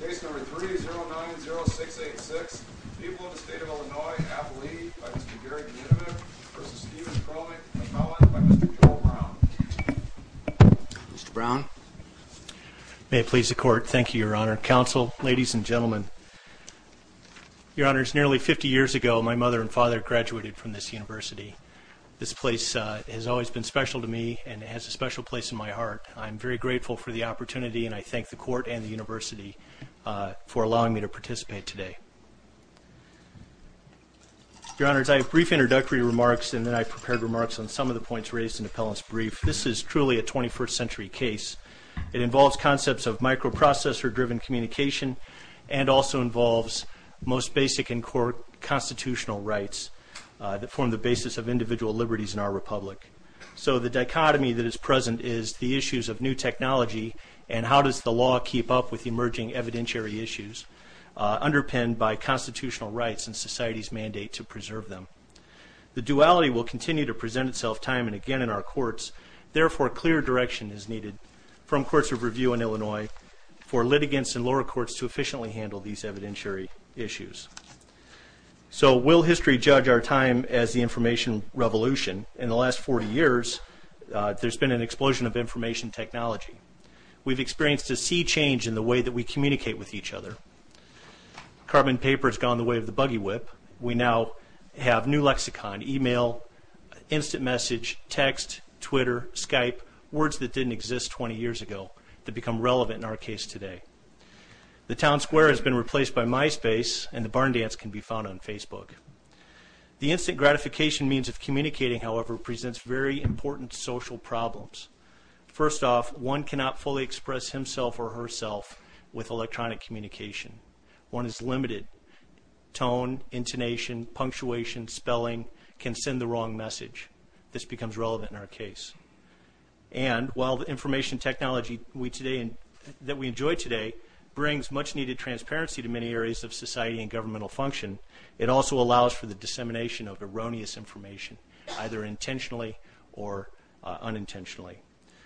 Case number 3090686, people of the state of Illinois, Appalachia, by Mr. Gary Kninevich v. Stephen Chromik, a felon, by Mr. Joel Brown. Mr. Brown. May it please the court. Thank you, Your Honor. Counsel, ladies and gentlemen. Your Honors, nearly 50 years ago, my mother and father graduated from this university. This place has always been special to me, and it has a special place in my heart. I'm very grateful for the opportunity, and I thank the court and the university for allowing me to participate today. Your Honors, I have brief introductory remarks, and then I've prepared remarks on some of the points raised in Appellant's brief. This is truly a 21st century case. It involves concepts of microprocessor-driven communication and also involves most basic and core constitutional rights that form the basis of individual liberties in our republic. So the dichotomy that is present is the issues of new technology and how does the law keep up with emerging evidentiary issues underpinned by constitutional rights and society's mandate to preserve them. The duality will continue to present itself time and again in our courts. Therefore, clear direction is needed from courts of review in Illinois for litigants and lower courts to efficiently handle these evidentiary issues. So will history judge our time as the information revolution? In the last 40 years, there's been an explosion of information technology. We've experienced a sea change in the way that we communicate with each other. Carbon paper has gone the way of the buggy whip. We now have new lexicon, email, instant message, text, Twitter, Skype, words that didn't exist 20 years ago that become relevant in our case today. The town square has been replaced by MySpace and the barn dance can be found on Facebook. The instant gratification means of communicating, however, presents very important social problems. First off, one cannot fully express himself or herself with electronic communication. One is limited. Tone, intonation, punctuation, spelling can send the wrong message. This becomes relevant in our case. And while the information technology that we enjoy today brings much-needed transparency to many areas of society and governmental function, it also allows for the dissemination of erroneous information, either intentionally or unintentionally.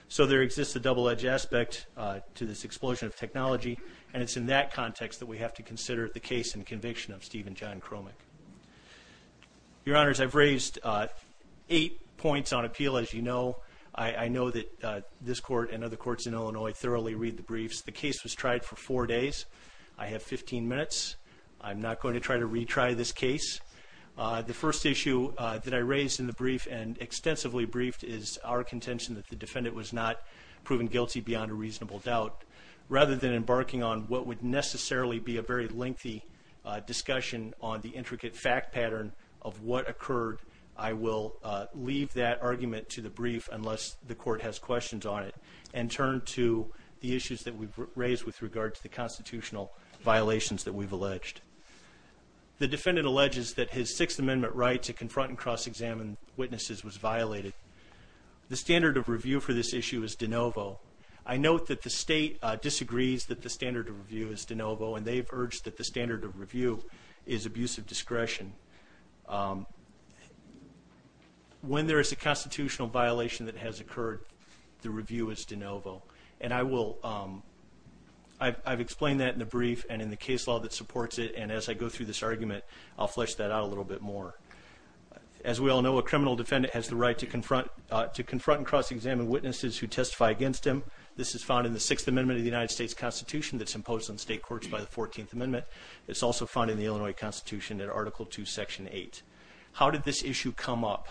So there exists a double-edged aspect to this explosion of technology, and it's in that context that we have to consider the case and conviction of Stephen John Cromick. Your Honors, I've raised eight points on appeal, as you know. I know that this court and other courts in Illinois thoroughly read the briefs. The case was tried for four days. I have 15 minutes. I'm not going to try to retry this case. The first issue that I raised in the brief and extensively briefed is our contention that the defendant was not proven guilty beyond a reasonable doubt. Rather than embarking on what would necessarily be a very lengthy discussion on the intricate fact pattern of what occurred, I will leave that argument to the brief unless the court has questions on it and turn to the issues that we've raised with regard to the constitutional violations that we've alleged. The defendant alleges that his Sixth Amendment right to confront and cross-examine witnesses was violated. The standard of review for this issue is de novo. I note that the state disagrees that the standard of review is de novo, and they've urged that the standard of review is abuse of discretion. When there is a constitutional violation that has occurred, the review is de novo. And I've explained that in the brief and in the case law that supports it, and as I go through this argument, I'll flesh that out a little bit more. As we all know, a criminal defendant has the right to confront and cross-examine witnesses who testify against him. This is found in the Sixth Amendment of the United States Constitution that's imposed on state courts by the 14th Amendment. It's also found in the Illinois Constitution in Article II, Section 8. How did this issue come up?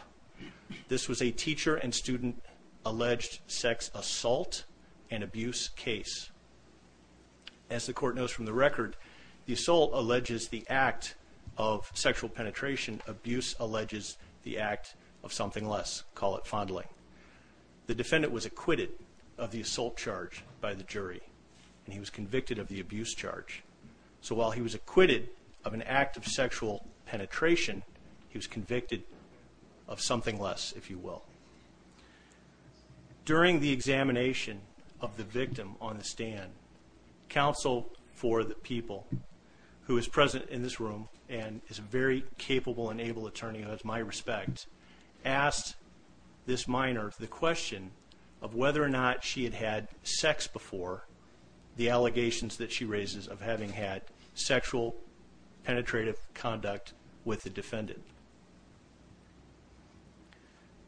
This was a teacher and student alleged sex assault and abuse case. As the court knows from the record, the assault alleges the act of sexual penetration. Abuse alleges the act of something less. Call it fondling. The defendant was acquitted of the assault charge by the jury, and he was convicted of the abuse charge. So while he was acquitted of an act of sexual penetration, he was convicted of something less, if you will. During the examination of the victim on the stand, counsel for the people, who is present in this room and is a very capable and able attorney who has my respect, asked this minor the question of whether or not she had had sex before the allegations that she raises of having had sexual penetrative conduct with the defendant.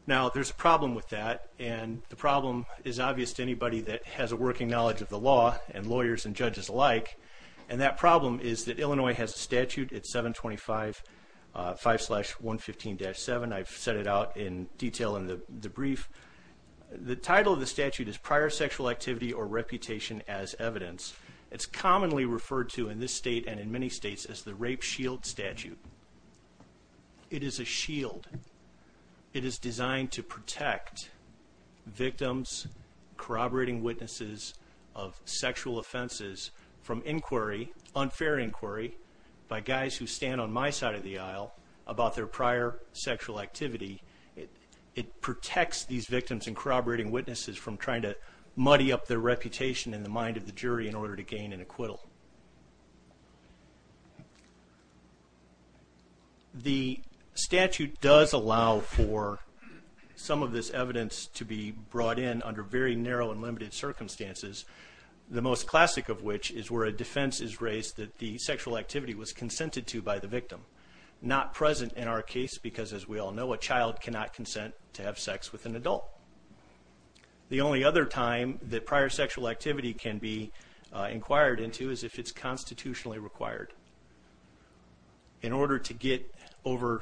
Now, there's a problem with that, and the problem is obvious to anybody that has a working knowledge of the law and lawyers and judges alike, and that problem is that Illinois has a statute. It's 725.5-115-7. I've set it out in detail in the brief. The title of the statute is Prior Sexual Activity or Reputation as Evidence. It's commonly referred to in this state and in many states as the Rape Shield Statute. It is a shield. It is designed to protect victims, corroborating witnesses of sexual offenses from inquiry, unfair inquiry, by guys who stand on my side of the aisle about their prior sexual activity. It protects these victims and corroborating witnesses from trying to muddy up their reputation in the mind of the jury in order to gain an acquittal. The statute does allow for some of this evidence to be brought in under very narrow and limited circumstances, the most classic of which is where a defense is raised that the sexual activity was consented to by the victim, not present in our case because, as we all know, a child cannot consent to have sex with an adult. The only other time that prior sexual activity can be inquired into is if it's constitutionally required. In order to get over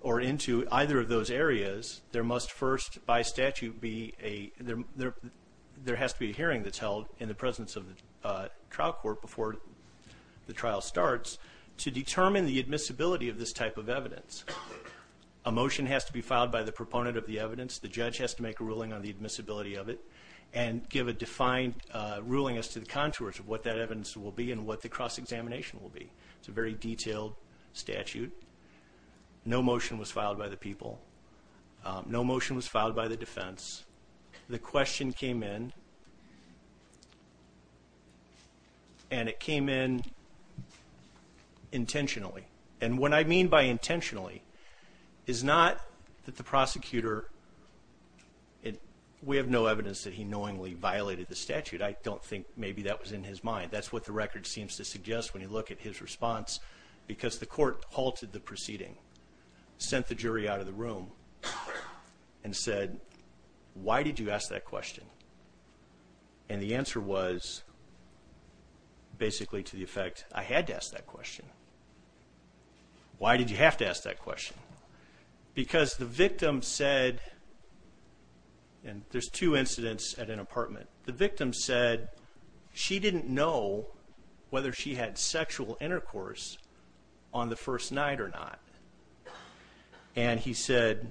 or into either of those areas, there must first, by statute, be a – there has to be a hearing that's held in the presence of the trial court before the trial starts to determine the admissibility of this type of evidence. A motion has to be filed by the proponent of the evidence. The judge has to make a ruling on the admissibility of it and give a defined ruling as to the contours of what that evidence will be and what the cross-examination will be. It's a very detailed statute. No motion was filed by the people. No motion was filed by the defense. The question came in, and it came in intentionally. And what I mean by intentionally is not that the prosecutor – we have no evidence that he knowingly violated the statute. I don't think maybe that was in his mind. That's what the record seems to suggest when you look at his response because the court halted the proceeding, sent the jury out of the room, and said, why did you ask that question? And the answer was basically to the effect, I had to ask that question. Why did you have to ask that question? Because the victim said – and there's two incidents at an apartment. The victim said she didn't know whether she had sexual intercourse on the first night or not. And he said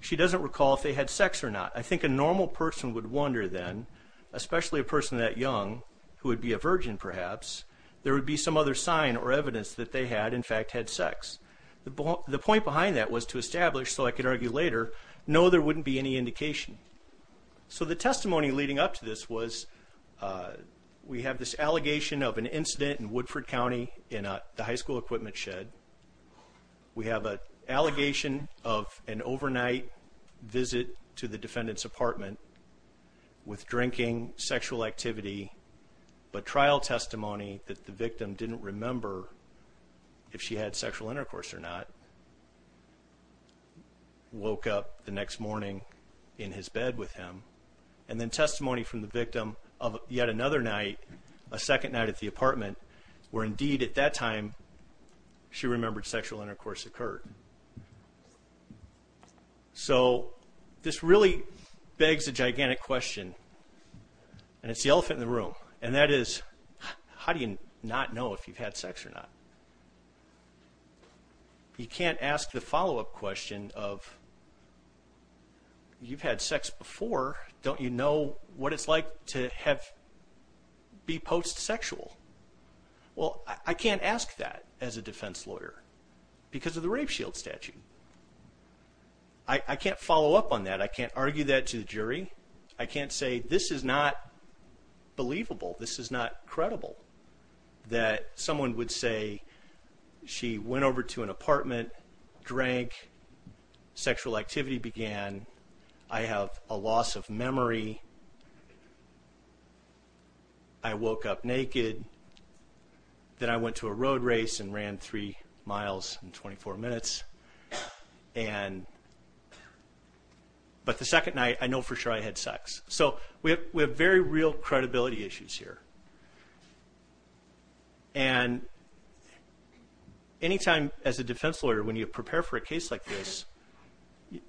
she doesn't recall if they had sex or not. I think a normal person would wonder then, especially a person that young, who would be a virgin perhaps, there would be some other sign or evidence that they had, in fact, had sex. The point behind that was to establish, so I could argue later, no, there wouldn't be any indication. So the testimony leading up to this was we have this allegation of an incident in Woodford County in the high school equipment shed. We have an allegation of an overnight visit to the defendant's apartment with drinking, sexual activity, but trial testimony that the victim didn't remember if she had sexual intercourse or not. Woke up the next morning in his bed with him. And then testimony from the victim of yet another night, a second night at the apartment, where indeed at that time she remembered sexual intercourse occurred. So this really begs a gigantic question, and it's the elephant in the room, and that is how do you not know if you've had sex or not? You can't ask the follow-up question of you've had sex before, don't you know what it's like to be post-sexual? Well, I can't ask that as a defense lawyer because of the rape shield statute. I can't follow up on that. I can't argue that to the jury. I can't say this is not believable, this is not credible, that someone would say she went over to an apartment, drank, sexual activity began, I have a loss of memory, I woke up naked, then I went to a road race and ran three miles in 24 minutes, but the second night I know for sure I had sex. So we have very real credibility issues here. And any time as a defense lawyer when you prepare for a case like this,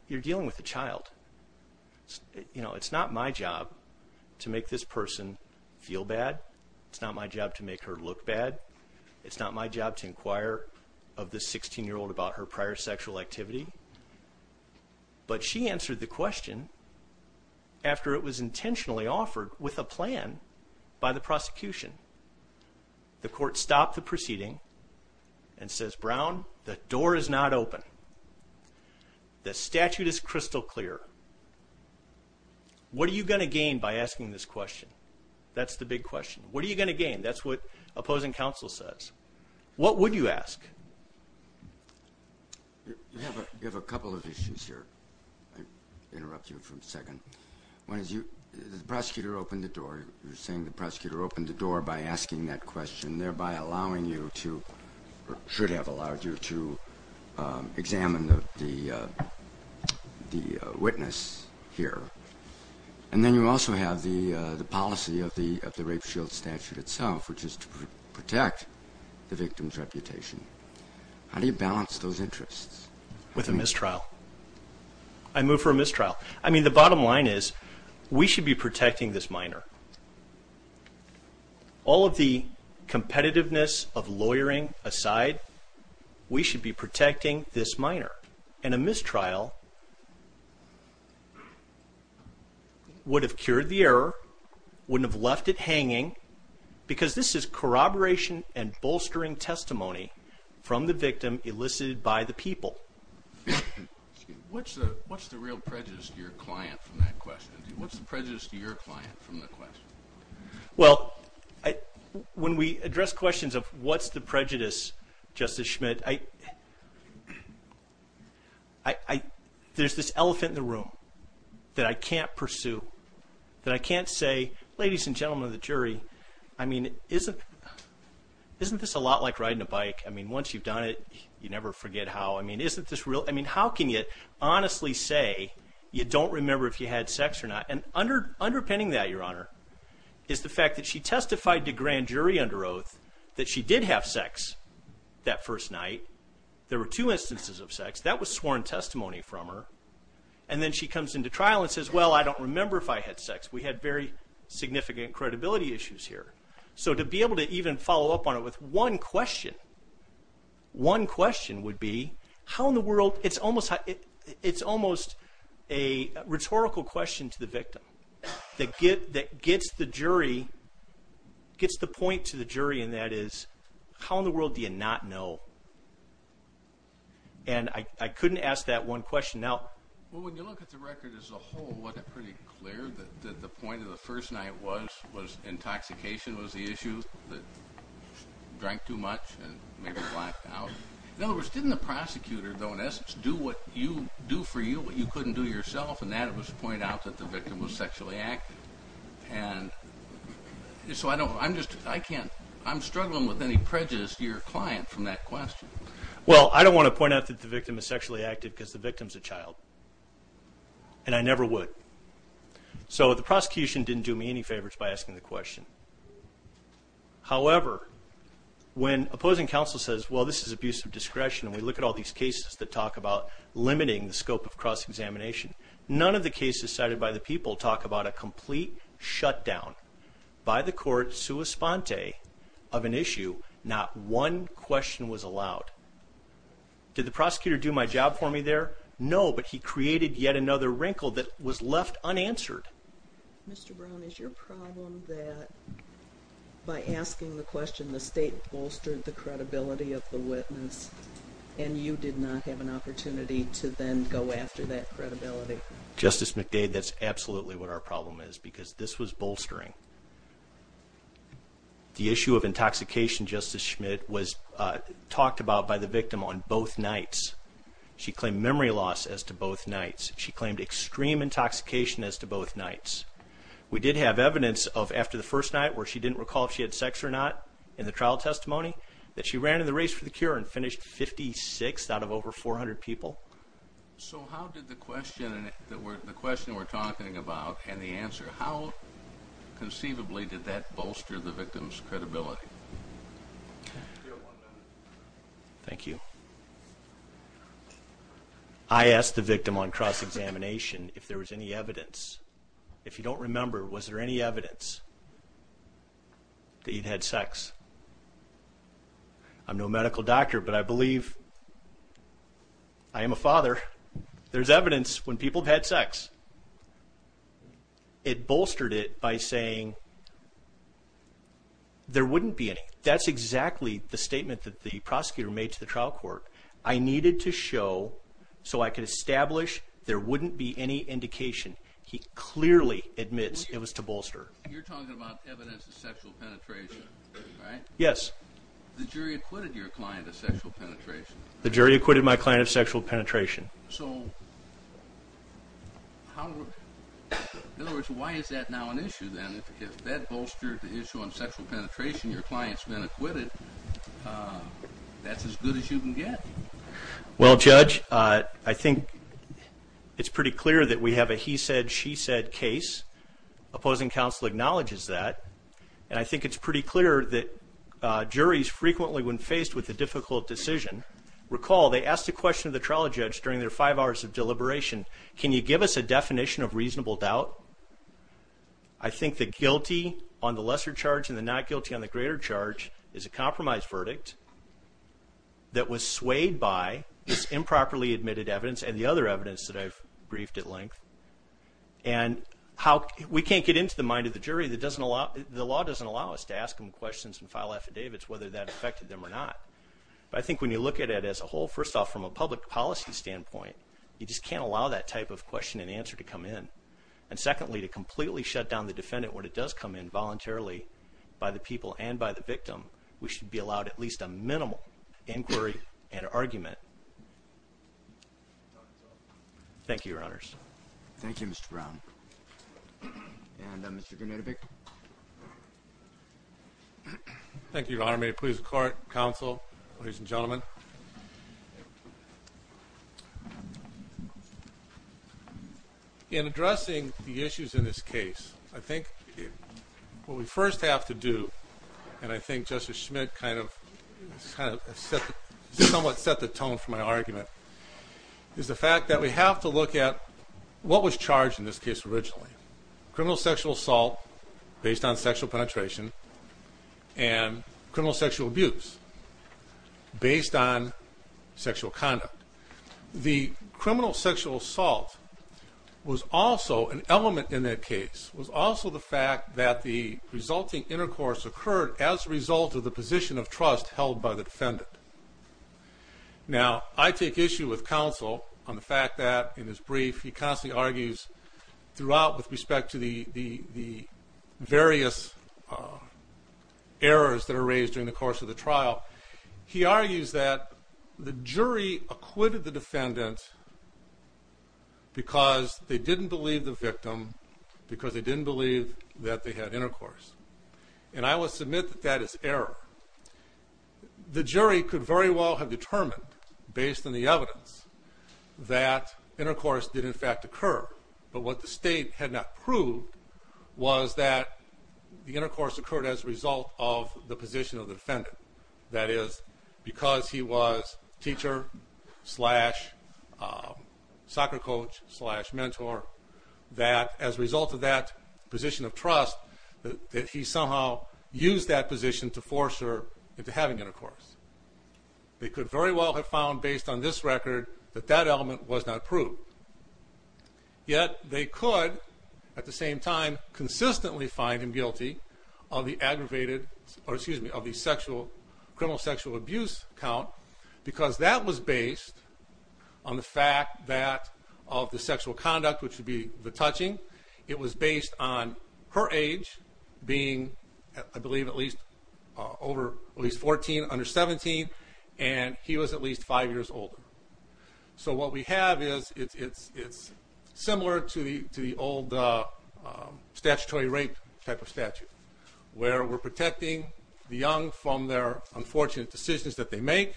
you're dealing with a child. You know, it's not my job to make this person feel bad. It's not my job to make her look bad. It's not my job to inquire of this 16-year-old about her prior sexual activity. But she answered the question after it was intentionally offered with a plan by the prosecution. The court stopped the proceeding and says, Brown, the door is not open. The statute is crystal clear. What are you going to gain by asking this question? That's the big question. What are you going to gain? That's what opposing counsel says. What would you ask? You have a couple of issues here. I'll interrupt you for a second. One is the prosecutor opened the door. You're saying the prosecutor opened the door by asking that question, thereby allowing you to or should have allowed you to examine the witness here. And then you also have the policy of the rape shield statute itself, which is to protect the victim's reputation. How do you balance those interests? With a mistrial. I move for a mistrial. I mean, the bottom line is we should be protecting this minor. All of the competitiveness of lawyering aside, we should be protecting this minor. And a mistrial would have cured the error, wouldn't have left it hanging, because this is corroboration and bolstering testimony from the victim elicited by the people. What's the real prejudice to your client from that question? What's the prejudice to your client from the question? Well, when we address questions of what's the prejudice, Justice Schmidt, there's this elephant in the room that I can't pursue, that I can't say, ladies and gentlemen of the jury, isn't this a lot like riding a bike? I mean, once you've done it, you never forget how. I mean, isn't this real? I mean, how can you honestly say you don't remember if you had sex or not? And underpinning that, Your Honor, is the fact that she testified to grand jury under oath that she did have sex that first night. There were two instances of sex. That was sworn testimony from her. And then she comes into trial and says, well, I don't remember if I had sex. We had very significant credibility issues here. So to be able to even follow up on it with one question, one question would be, how in the world? It's almost a rhetorical question to the victim that gets the jury, gets the point to the jury, and that is, how in the world do you not know? And I couldn't ask that one question. Well, when you look at the record as a whole, wasn't it pretty clear that the point of the first night was intoxication was the issue, that she drank too much and maybe blacked out? In other words, didn't the prosecutor, though, in essence, do what you do for you, what you couldn't do yourself, and that was to point out that the victim was sexually active? And so I'm struggling with any prejudice to your client from that question. Well, I don't want to point out that the victim is sexually active because the victim is a child, and I never would. So the prosecution didn't do me any favors by asking the question. However, when opposing counsel says, well, this is abuse of discretion, and we look at all these cases that talk about limiting the scope of cross-examination, none of the cases cited by the people talk about a complete shutdown by the court sua sponte of an issue, not one question was allowed. Did the prosecutor do my job for me there? No, but he created yet another wrinkle that was left unanswered. Mr. Brown, is your problem that by asking the question, the state bolstered the credibility of the witness and you did not have an opportunity to then go after that credibility? Justice McDade, that's absolutely what our problem is because this was bolstering. The issue of intoxication, Justice Schmidt, was talked about by the victim on both nights. She claimed memory loss as to both nights. She claimed extreme intoxication as to both nights. We did have evidence of after the first night where she didn't recall if she had sex or not in the trial testimony that she ran in the race for the cure and finished 56th out of over 400 people. So how did the question we're talking about and the answer, how conceivably did that bolster the victim's credibility? Okay. Thank you. I asked the victim on cross-examination if there was any evidence. If you don't remember, was there any evidence that you'd had sex? I'm no medical doctor, but I believe I am a father. There's evidence when people have had sex. It bolstered it by saying there wouldn't be any. That's exactly the statement that the prosecutor made to the trial court. I needed to show so I could establish there wouldn't be any indication. He clearly admits it was to bolster. You're talking about evidence of sexual penetration, right? Yes. The jury acquitted your client of sexual penetration. The jury acquitted my client of sexual penetration. So in other words, why is that now an issue then? If that bolstered the issue on sexual penetration, your client's been acquitted, that's as good as you can get. Well, Judge, I think it's pretty clear that we have a he said, she said case. Opposing counsel acknowledges that, and I think it's pretty clear that juries frequently when faced with a difficult decision, recall they asked a question of the trial judge during their five hours of deliberation. Can you give us a definition of reasonable doubt? I think the guilty on the lesser charge and the not guilty on the greater charge is a compromise verdict that was swayed by this improperly admitted evidence and the other evidence that I've briefed at length. And we can't get into the mind of the jury. The law doesn't allow us to ask them questions and file affidavits whether that affected them or not. But I think when you look at it as a whole, first off, from a public policy standpoint, you just can't allow that type of question and answer to come in. And secondly, to completely shut down the defendant when it does come in voluntarily by the people and by the victim, we should be allowed at least a minimal inquiry and argument. Thank you, Your Honors. Thank you, Mr. Brown. And Mr. Grunewald. Thank you. Thank you, Your Honor. May it please the court, counsel, ladies and gentlemen. In addressing the issues in this case, I think what we first have to do, and I think Justice Schmidt kind of somewhat set the tone for my argument, is the fact that we have to look at what was charged in this case originally. Criminal sexual assault based on sexual penetration and criminal sexual abuse based on sexual conduct. The criminal sexual assault was also an element in that case, was also the fact that the resulting intercourse occurred as a result of the position of trust held by the defendant. Now, I take issue with counsel on the fact that, in his brief, he constantly argues throughout with respect to the various errors that are raised during the course of the trial. He argues that the jury acquitted the defendant because they didn't believe the victim, because they didn't believe that they had intercourse. And I will submit that that is error. The jury could very well have determined, based on the evidence, that intercourse did, in fact, occur. But what the state had not proved was that the intercourse occurred as a result of the position of the defendant. That is, because he was teacher slash soccer coach slash mentor, that, as a result of that position of trust, that he somehow used that position to force her into having intercourse. They could very well have found, based on this record, that that element was not proved. Yet they could, at the same time, consistently find him guilty of the aggravated, or excuse me, of the criminal sexual abuse count, because that was based on the fact that, of the sexual conduct, which would be the touching, it was based on her age being, I believe, at least 14 under 17, and he was at least five years older. So what we have is, it's similar to the old statutory rape type of statute, where we're protecting the young from their unfortunate decisions that they make,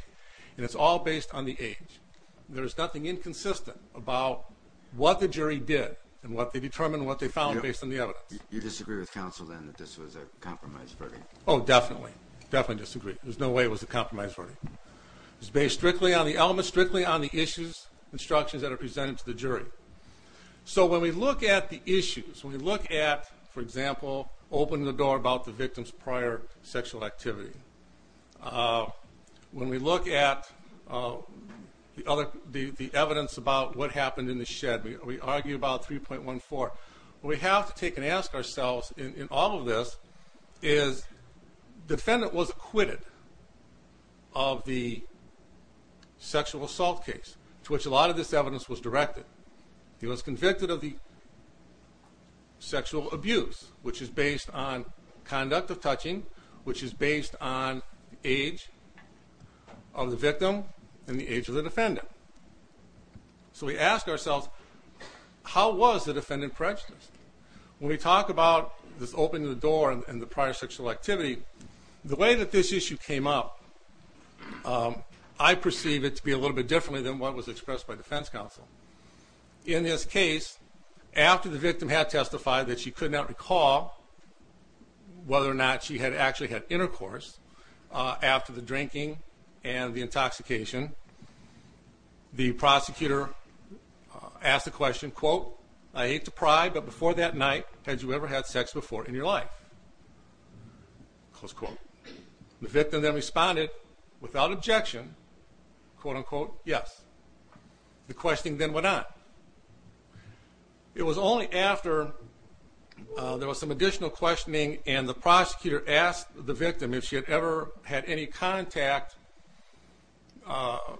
and it's all based on the age. There is nothing inconsistent about what the jury did and what they determined, what they found, based on the evidence. You disagree with counsel, then, that this was a compromise verdict? Oh, definitely. Definitely disagree. There's no way it was a compromise verdict. It was based strictly on the elements, strictly on the issues, instructions that are presented to the jury. So when we look at the issues, when we look at, for example, opening the door about the victim's prior sexual activity, when we look at the evidence about what happened in the shed, we argue about 3.14. What we have to take and ask ourselves in all of this is, the defendant was acquitted of the sexual assault case to which a lot of this evidence was directed. He was convicted of the sexual abuse, which is based on conduct of touching, which is based on age of the victim and the age of the defendant. So we ask ourselves, how was the defendant prejudiced? When we talk about this opening the door and the prior sexual activity, the way that this issue came up, I perceive it to be a little bit differently than what was expressed by defense counsel. In this case, after the victim had testified that she could not recall whether or not she had actually had intercourse, after the drinking and the intoxication, the prosecutor asked the question, quote, I hate to pry, but before that night, had you ever had sex before in your life? Close quote. The victim then responded without objection, quote, unquote, yes. The questioning then went on. It was only after there was some additional questioning and the prosecutor asked the victim if she had ever had any contact of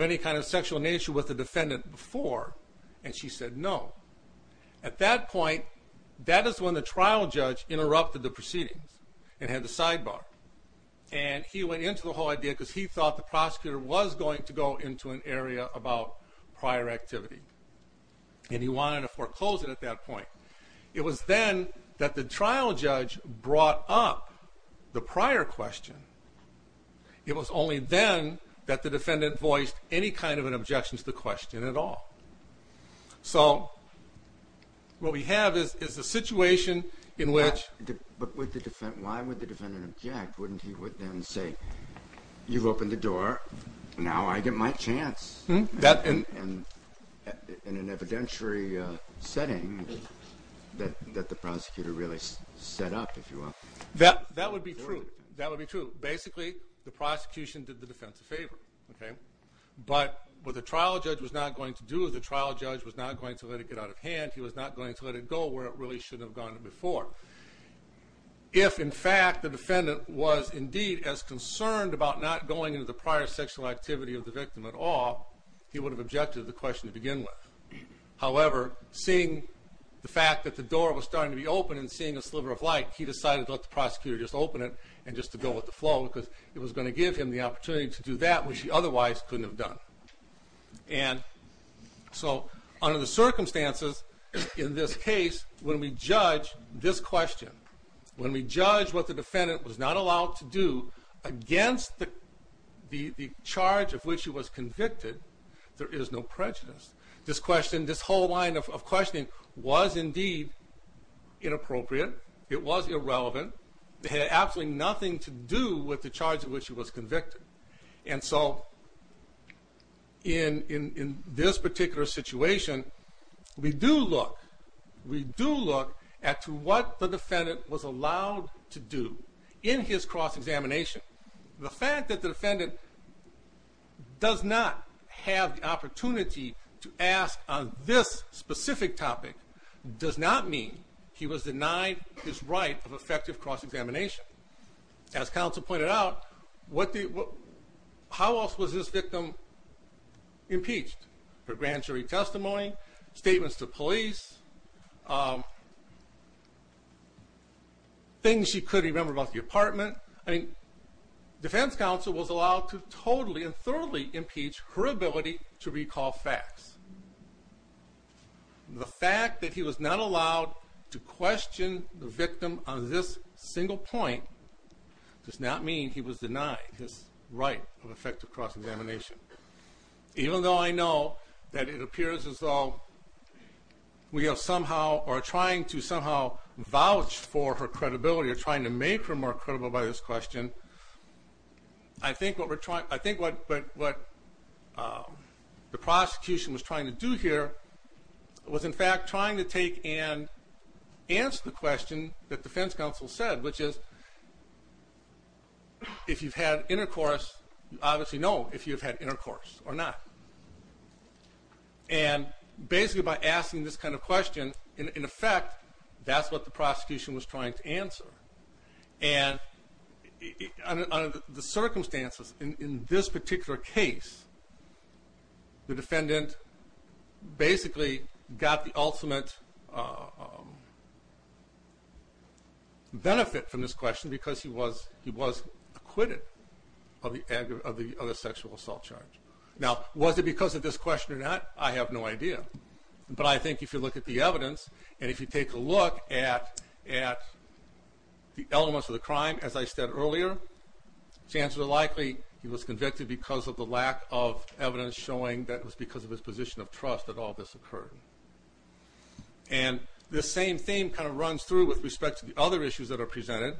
any kind of sexual nature with the defendant before, and she said no. At that point, that is when the trial judge interrupted the proceedings and had the sidebar, and he went into the whole idea because he thought the prosecutor was going to go into an area about prior activity, and he wanted to foreclose it at that point. It was then that the trial judge brought up the prior question. It was only then that the defendant voiced any kind of an objection to the question at all. So what we have is the situation in which the defendant objected. You've opened the door. Now I get my chance in an evidentiary setting that the prosecutor really set up, if you will. That would be true. That would be true. Basically, the prosecution did the defense a favor, but what the trial judge was not going to do, the trial judge was not going to let it get out of hand. He was not going to let it go where it really should have gone before. If, in fact, the defendant was indeed as concerned about not going into the prior sexual activity of the victim at all, he would have objected to the question to begin with. However, seeing the fact that the door was starting to be open and seeing a sliver of light, he decided to let the prosecutor just open it and just to go with the flow because it was going to give him the opportunity to do that which he otherwise couldn't have done. And so under the circumstances in this case, when we judge this question, when we judge what the defendant was not allowed to do against the charge of which he was convicted, there is no prejudice. This question, this whole line of questioning was indeed inappropriate. It was irrelevant. It had absolutely nothing to do with the charge of which he was convicted. And so in this particular situation, we do look at what the defendant was allowed to do in his cross-examination. The fact that the defendant does not have the opportunity to ask on this specific topic does not mean he was denied his right of effective cross-examination. As counsel pointed out, how else was this victim impeached? Her grand jury testimony, statements to police, things she couldn't remember about the apartment. I mean, defense counsel was allowed to totally and thoroughly impeach her ability to recall facts. The fact that he was not allowed to question the victim on this single point does not mean he was denied his right of effective cross-examination. Even though I know that it appears as though we are somehow or trying to somehow vouch for her credibility or trying to make her more credible by this question, I think what the prosecution was trying to do here was in fact trying to take and answer the question that defense counsel said, which is, if you've had intercourse, you obviously know if you've had intercourse or not. And basically by asking this kind of question, in effect, that's what the prosecution was trying to answer. And under the circumstances in this particular case, the defendant basically got the ultimate benefit from this question because he was acquitted of the sexual assault charge. Now, was it because of this question or not, I have no idea. But I think if you look at the evidence and if you take a look at the elements of the crime, as I said earlier, chances are likely he was convicted because of the lack of evidence showing that it was because of his position of trust that all this occurred. And this same theme kind of runs through with respect to the other issues that are presented.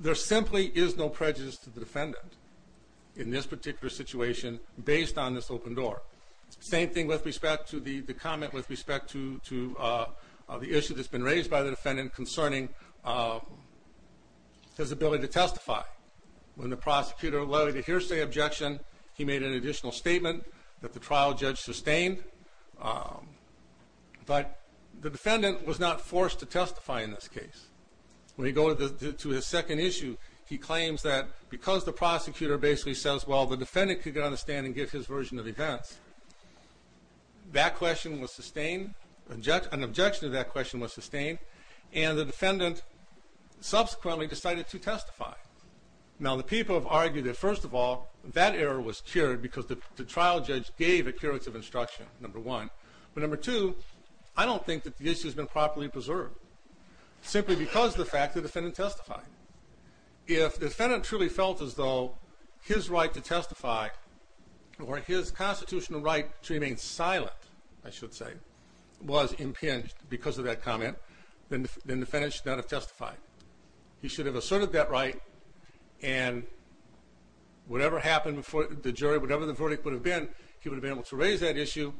There simply is no prejudice to the defendant in this particular situation based on this open door. It's the same thing with respect to the comment with respect to the issue that's been raised by the defendant concerning his ability to testify. When the prosecutor allowed the hearsay objection, he made an additional statement that the trial judge sustained. But the defendant was not forced to testify in this case. When we go to his second issue, he claims that because the prosecutor basically says, well, the defendant could understand and give his version of events, that question was sustained, an objection to that question was sustained, and the defendant subsequently decided to testify. Now, the people have argued that, first of all, that error was cured because the trial judge gave a curative instruction, number one. But number two, I don't think that the issue has been properly preserved simply because of the fact that the defendant testified. If the defendant truly felt as though his right to testify or his constitutional right to remain silent, I should say, was impinged because of that comment, then the defendant should not have testified. He should have asserted that right, and whatever happened before the jury, whatever the verdict would have been, he would have been able to raise that issue,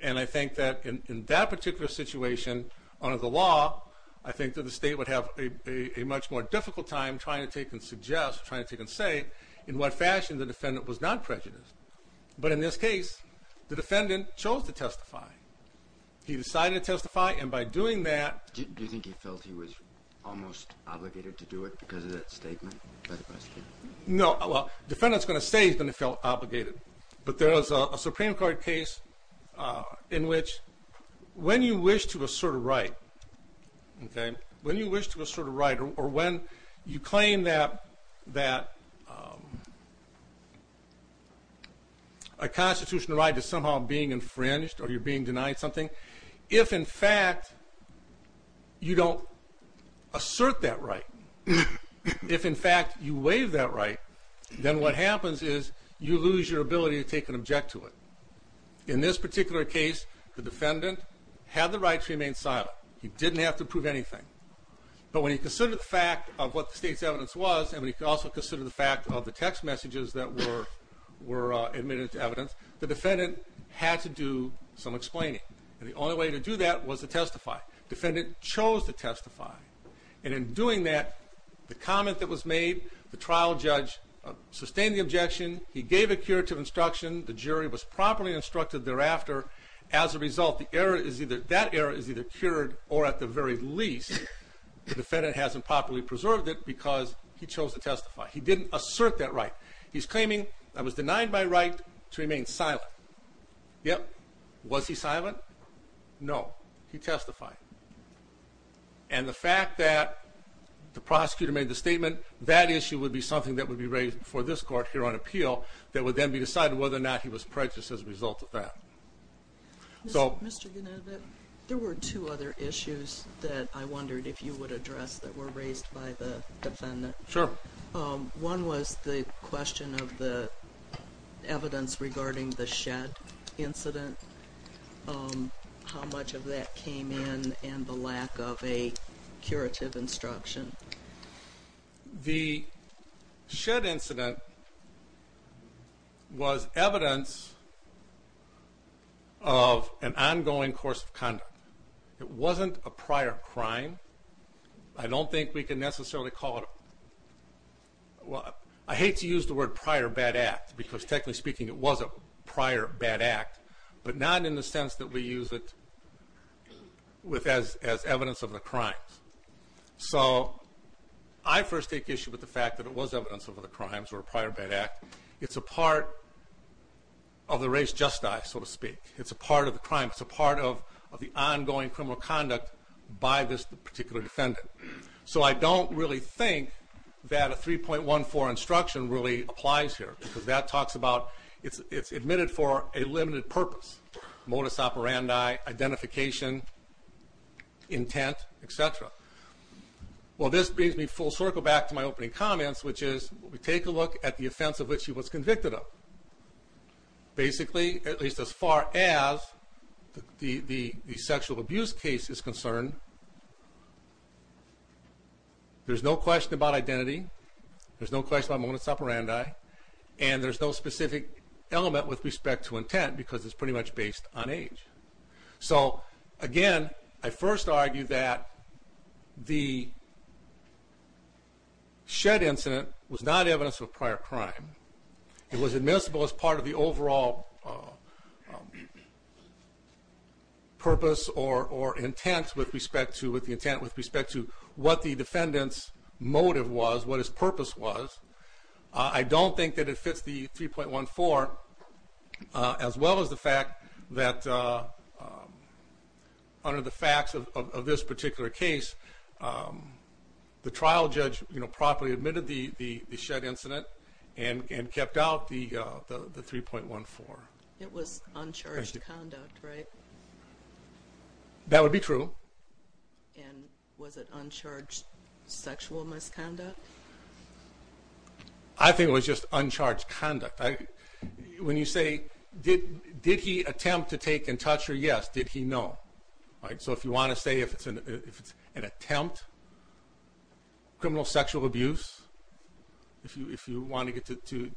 and I think that in that particular situation under the law, I think that the state would have a much more difficult time trying to take and suggest, trying to take and say in what fashion the defendant was not prejudiced. But in this case, the defendant chose to testify. He decided to testify, and by doing that... Do you think he felt he was almost obligated to do it because of that statement? No. Well, the defendant is going to say he felt obligated, but there is a Supreme Court case in which when you wish to assert a right, okay, when you wish to assert a right or when you claim that a constitutional right is somehow being infringed or you're being denied something, if in fact you don't assert that right, if in fact you waive that right, then what happens is you lose your ability to take an object to it. In this particular case, the defendant had the right to remain silent. He didn't have to prove anything. But when you consider the fact of what the state's evidence was, and when you also consider the fact of the text messages that were admitted to evidence, the defendant had to do some explaining. And the only way to do that was to testify. The defendant chose to testify. And in doing that, the comment that was made, the trial judge sustained the objection. He gave a curative instruction. The jury was properly instructed thereafter. As a result, that error is either cured or, at the very least, the defendant hasn't properly preserved it because he chose to testify. He didn't assert that right. He's claiming, I was denied my right to remain silent. Yep. Was he silent? No. He testified. And the fact that the prosecutor made the statement, that issue would be something that would be raised before this court here on appeal that would then be decided whether or not he was prejudiced as a result of that. Mr. Gannett, there were two other issues that I wondered if you would address that were raised by the defendant. Sure. One was the question of the evidence regarding the S.H.E.D. incident, how much of that came in, and the lack of a curative instruction. The S.H.E.D. incident was evidence of an ongoing course of conduct. It wasn't a prior crime. I don't think we can necessarily call it a prior crime. I hate to use the word prior bad act because, technically speaking, it was a prior bad act, but not in the sense that we use it as evidence of a crime. So I first take issue with the fact that it was evidence of a crime or a prior bad act. It's a part of the race just die, so to speak. It's a part of the crime. It's a part of the ongoing criminal conduct by this particular defendant. So I don't really think that a 3.14 instruction really applies here because that talks about it's admitted for a limited purpose, modus operandi, identification, intent, et cetera. Well, this brings me full circle back to my opening comments, which is we take a look at the offense of which he was convicted of. Basically, at least as far as the sexual abuse case is concerned, there's no question about identity, there's no question about modus operandi, and there's no specific element with respect to intent because it's pretty much based on age. So, again, I first argue that the Shedd incident was not evidence of a prior crime. It was admissible as part of the overall purpose or intent with respect to what the defendant's motive was, what his purpose was. I don't think that it fits the 3.14 as well as the fact that under the facts of this particular case, the trial judge properly admitted the Shedd incident and kept out the 3.14. It was uncharged conduct, right? That would be true. And was it uncharged sexual misconduct? I think it was just uncharged conduct. When you say, did he attempt to take and touch her, yes. Did he, no. So if you want to say if it's an attempt, criminal sexual abuse, if you want to get to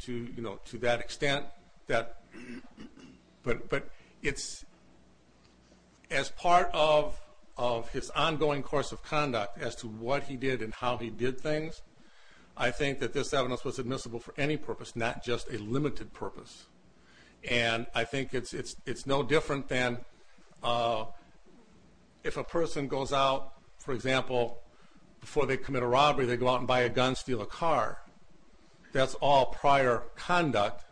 that extent, but it's as part of his ongoing course of conduct as to what he did and how he did things, I think that this evidence was admissible for any purpose, not just a limited purpose. And I think it's no different than if a person goes out, for example, before they commit a robbery, they go out and buy a gun, steal a car. That's all prior conduct,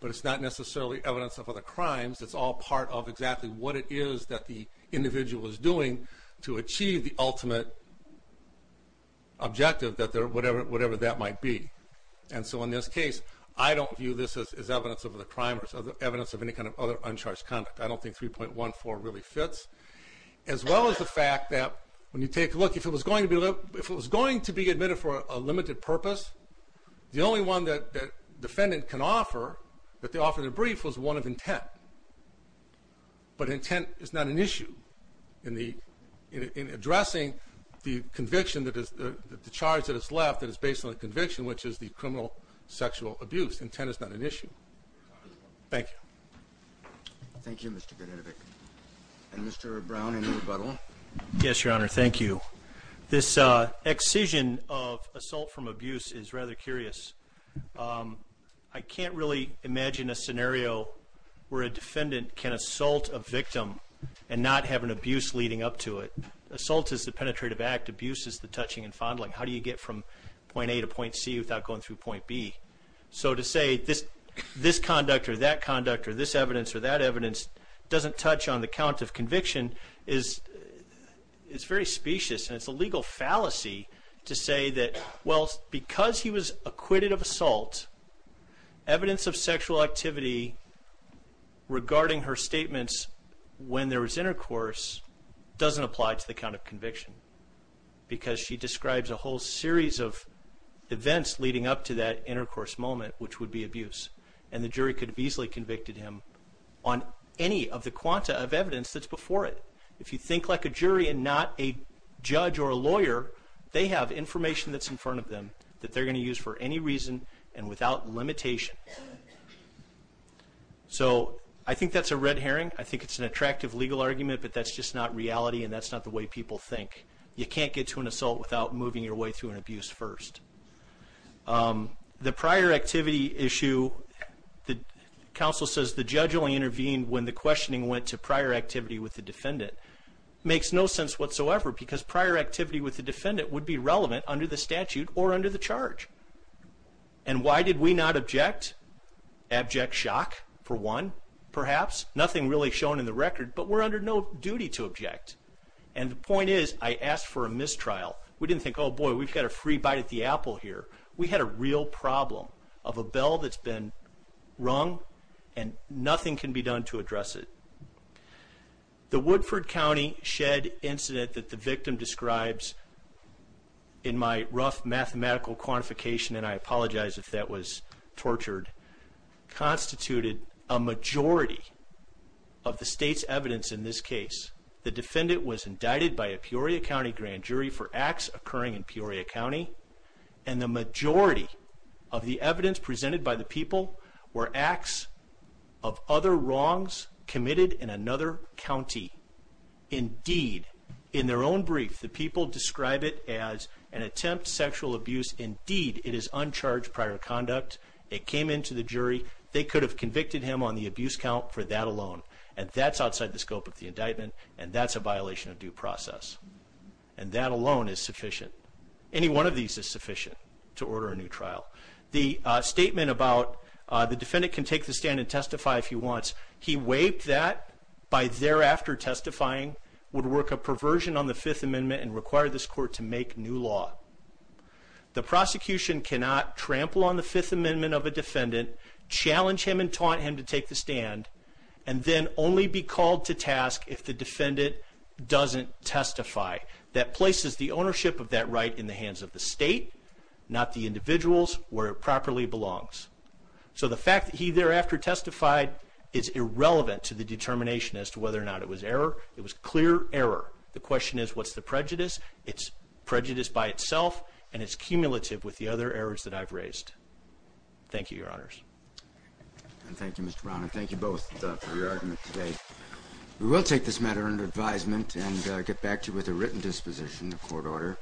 but it's not necessarily evidence of other crimes. It's all part of exactly what it is that the individual is doing to achieve the ultimate objective, whatever that might be. And so in this case, I don't view this as evidence of other crimes, evidence of any kind of other uncharged conduct. I don't think 3.14 really fits, as well as the fact that when you take a look, if it was going to be admitted for a limited purpose, the only one that the defendant can offer, that they offered in a brief, was one of intent. But intent is not an issue in addressing the conviction that is, the charge that is left that is based on the conviction, which is the criminal sexual abuse. Intent is not an issue. Thank you. Thank you, Mr. Vanden Heuvel. And Mr. Brown, any rebuttal? Yes, Your Honor, thank you. This excision of assault from abuse is rather curious. I can't really imagine a scenario where a defendant can assault a victim and not have an abuse leading up to it. Assault is the penetrative act, abuse is the touching and fondling. How do you get from point A to point C without going through point B? So to say this conduct or that conduct or this evidence or that evidence doesn't touch on the count of conviction is very specious, and it's a legal fallacy to say that, well, because he was acquitted of assault, evidence of sexual activity regarding her statements when there was intercourse doesn't apply to the count of conviction, because she describes a whole series of events leading up to that intercourse moment, which would be abuse. And the jury could have easily convicted him on any of the quanta of evidence that's before it. If you think like a jury and not a judge or a lawyer, they have information that's in front of them that they're going to use for any reason and without limitation. So I think that's a red herring. I think it's an attractive legal argument, but that's just not reality and that's not the way people think. You can't get to an assault without moving your way through an abuse first. The prior activity issue, the counsel says the judge only intervened when the questioning went to prior activity with the defendant. It makes no sense whatsoever, because prior activity with the defendant would be relevant under the statute or under the charge. And why did we not object? Abject shock, for one, perhaps. Nothing really shown in the record, but we're under no duty to object. And the point is, I asked for a mistrial. We didn't think, oh boy, we've got a free bite at the apple here. We had a real problem of a bell that's been rung, and nothing can be done to address it. The Woodford County shed incident that the victim describes in my rough mathematical quantification, and I apologize if that was tortured, constituted a majority of the state's evidence in this case. The defendant was indicted by a Peoria County grand jury for acts occurring in Peoria County, and the majority of the evidence presented by the people were acts of other wrongs committed in another county. Indeed, in their own brief, the people describe it as an attempt, sexual abuse. Indeed, it is uncharged prior conduct. It came into the jury. They could have convicted him on the abuse count for that alone, and that's outside the scope of the indictment, and that's a violation of due process. And that alone is sufficient. Any one of these is sufficient to order a new trial. The statement about the defendant can take the stand and testify if he wants, he waived that by thereafter testifying would work a perversion on the Fifth Amendment and require this court to make new law. The prosecution cannot trample on the Fifth Amendment of a defendant, challenge him and taunt him to take the stand, and then only be called to task if the defendant doesn't testify. That places the ownership of that right in the hands of the state, not the individuals where it properly belongs. So the fact that he thereafter testified is irrelevant to the determination as to whether or not it was error. It was clear error. The question is, what's the prejudice? It's prejudice by itself, and it's cumulative with the other errors that I've raised. Thank you, Your Honors. Thank you, Mr. Brown, and thank you both for your argument today. We will take this matter under advisement and get back to you with a written disposition in the court order.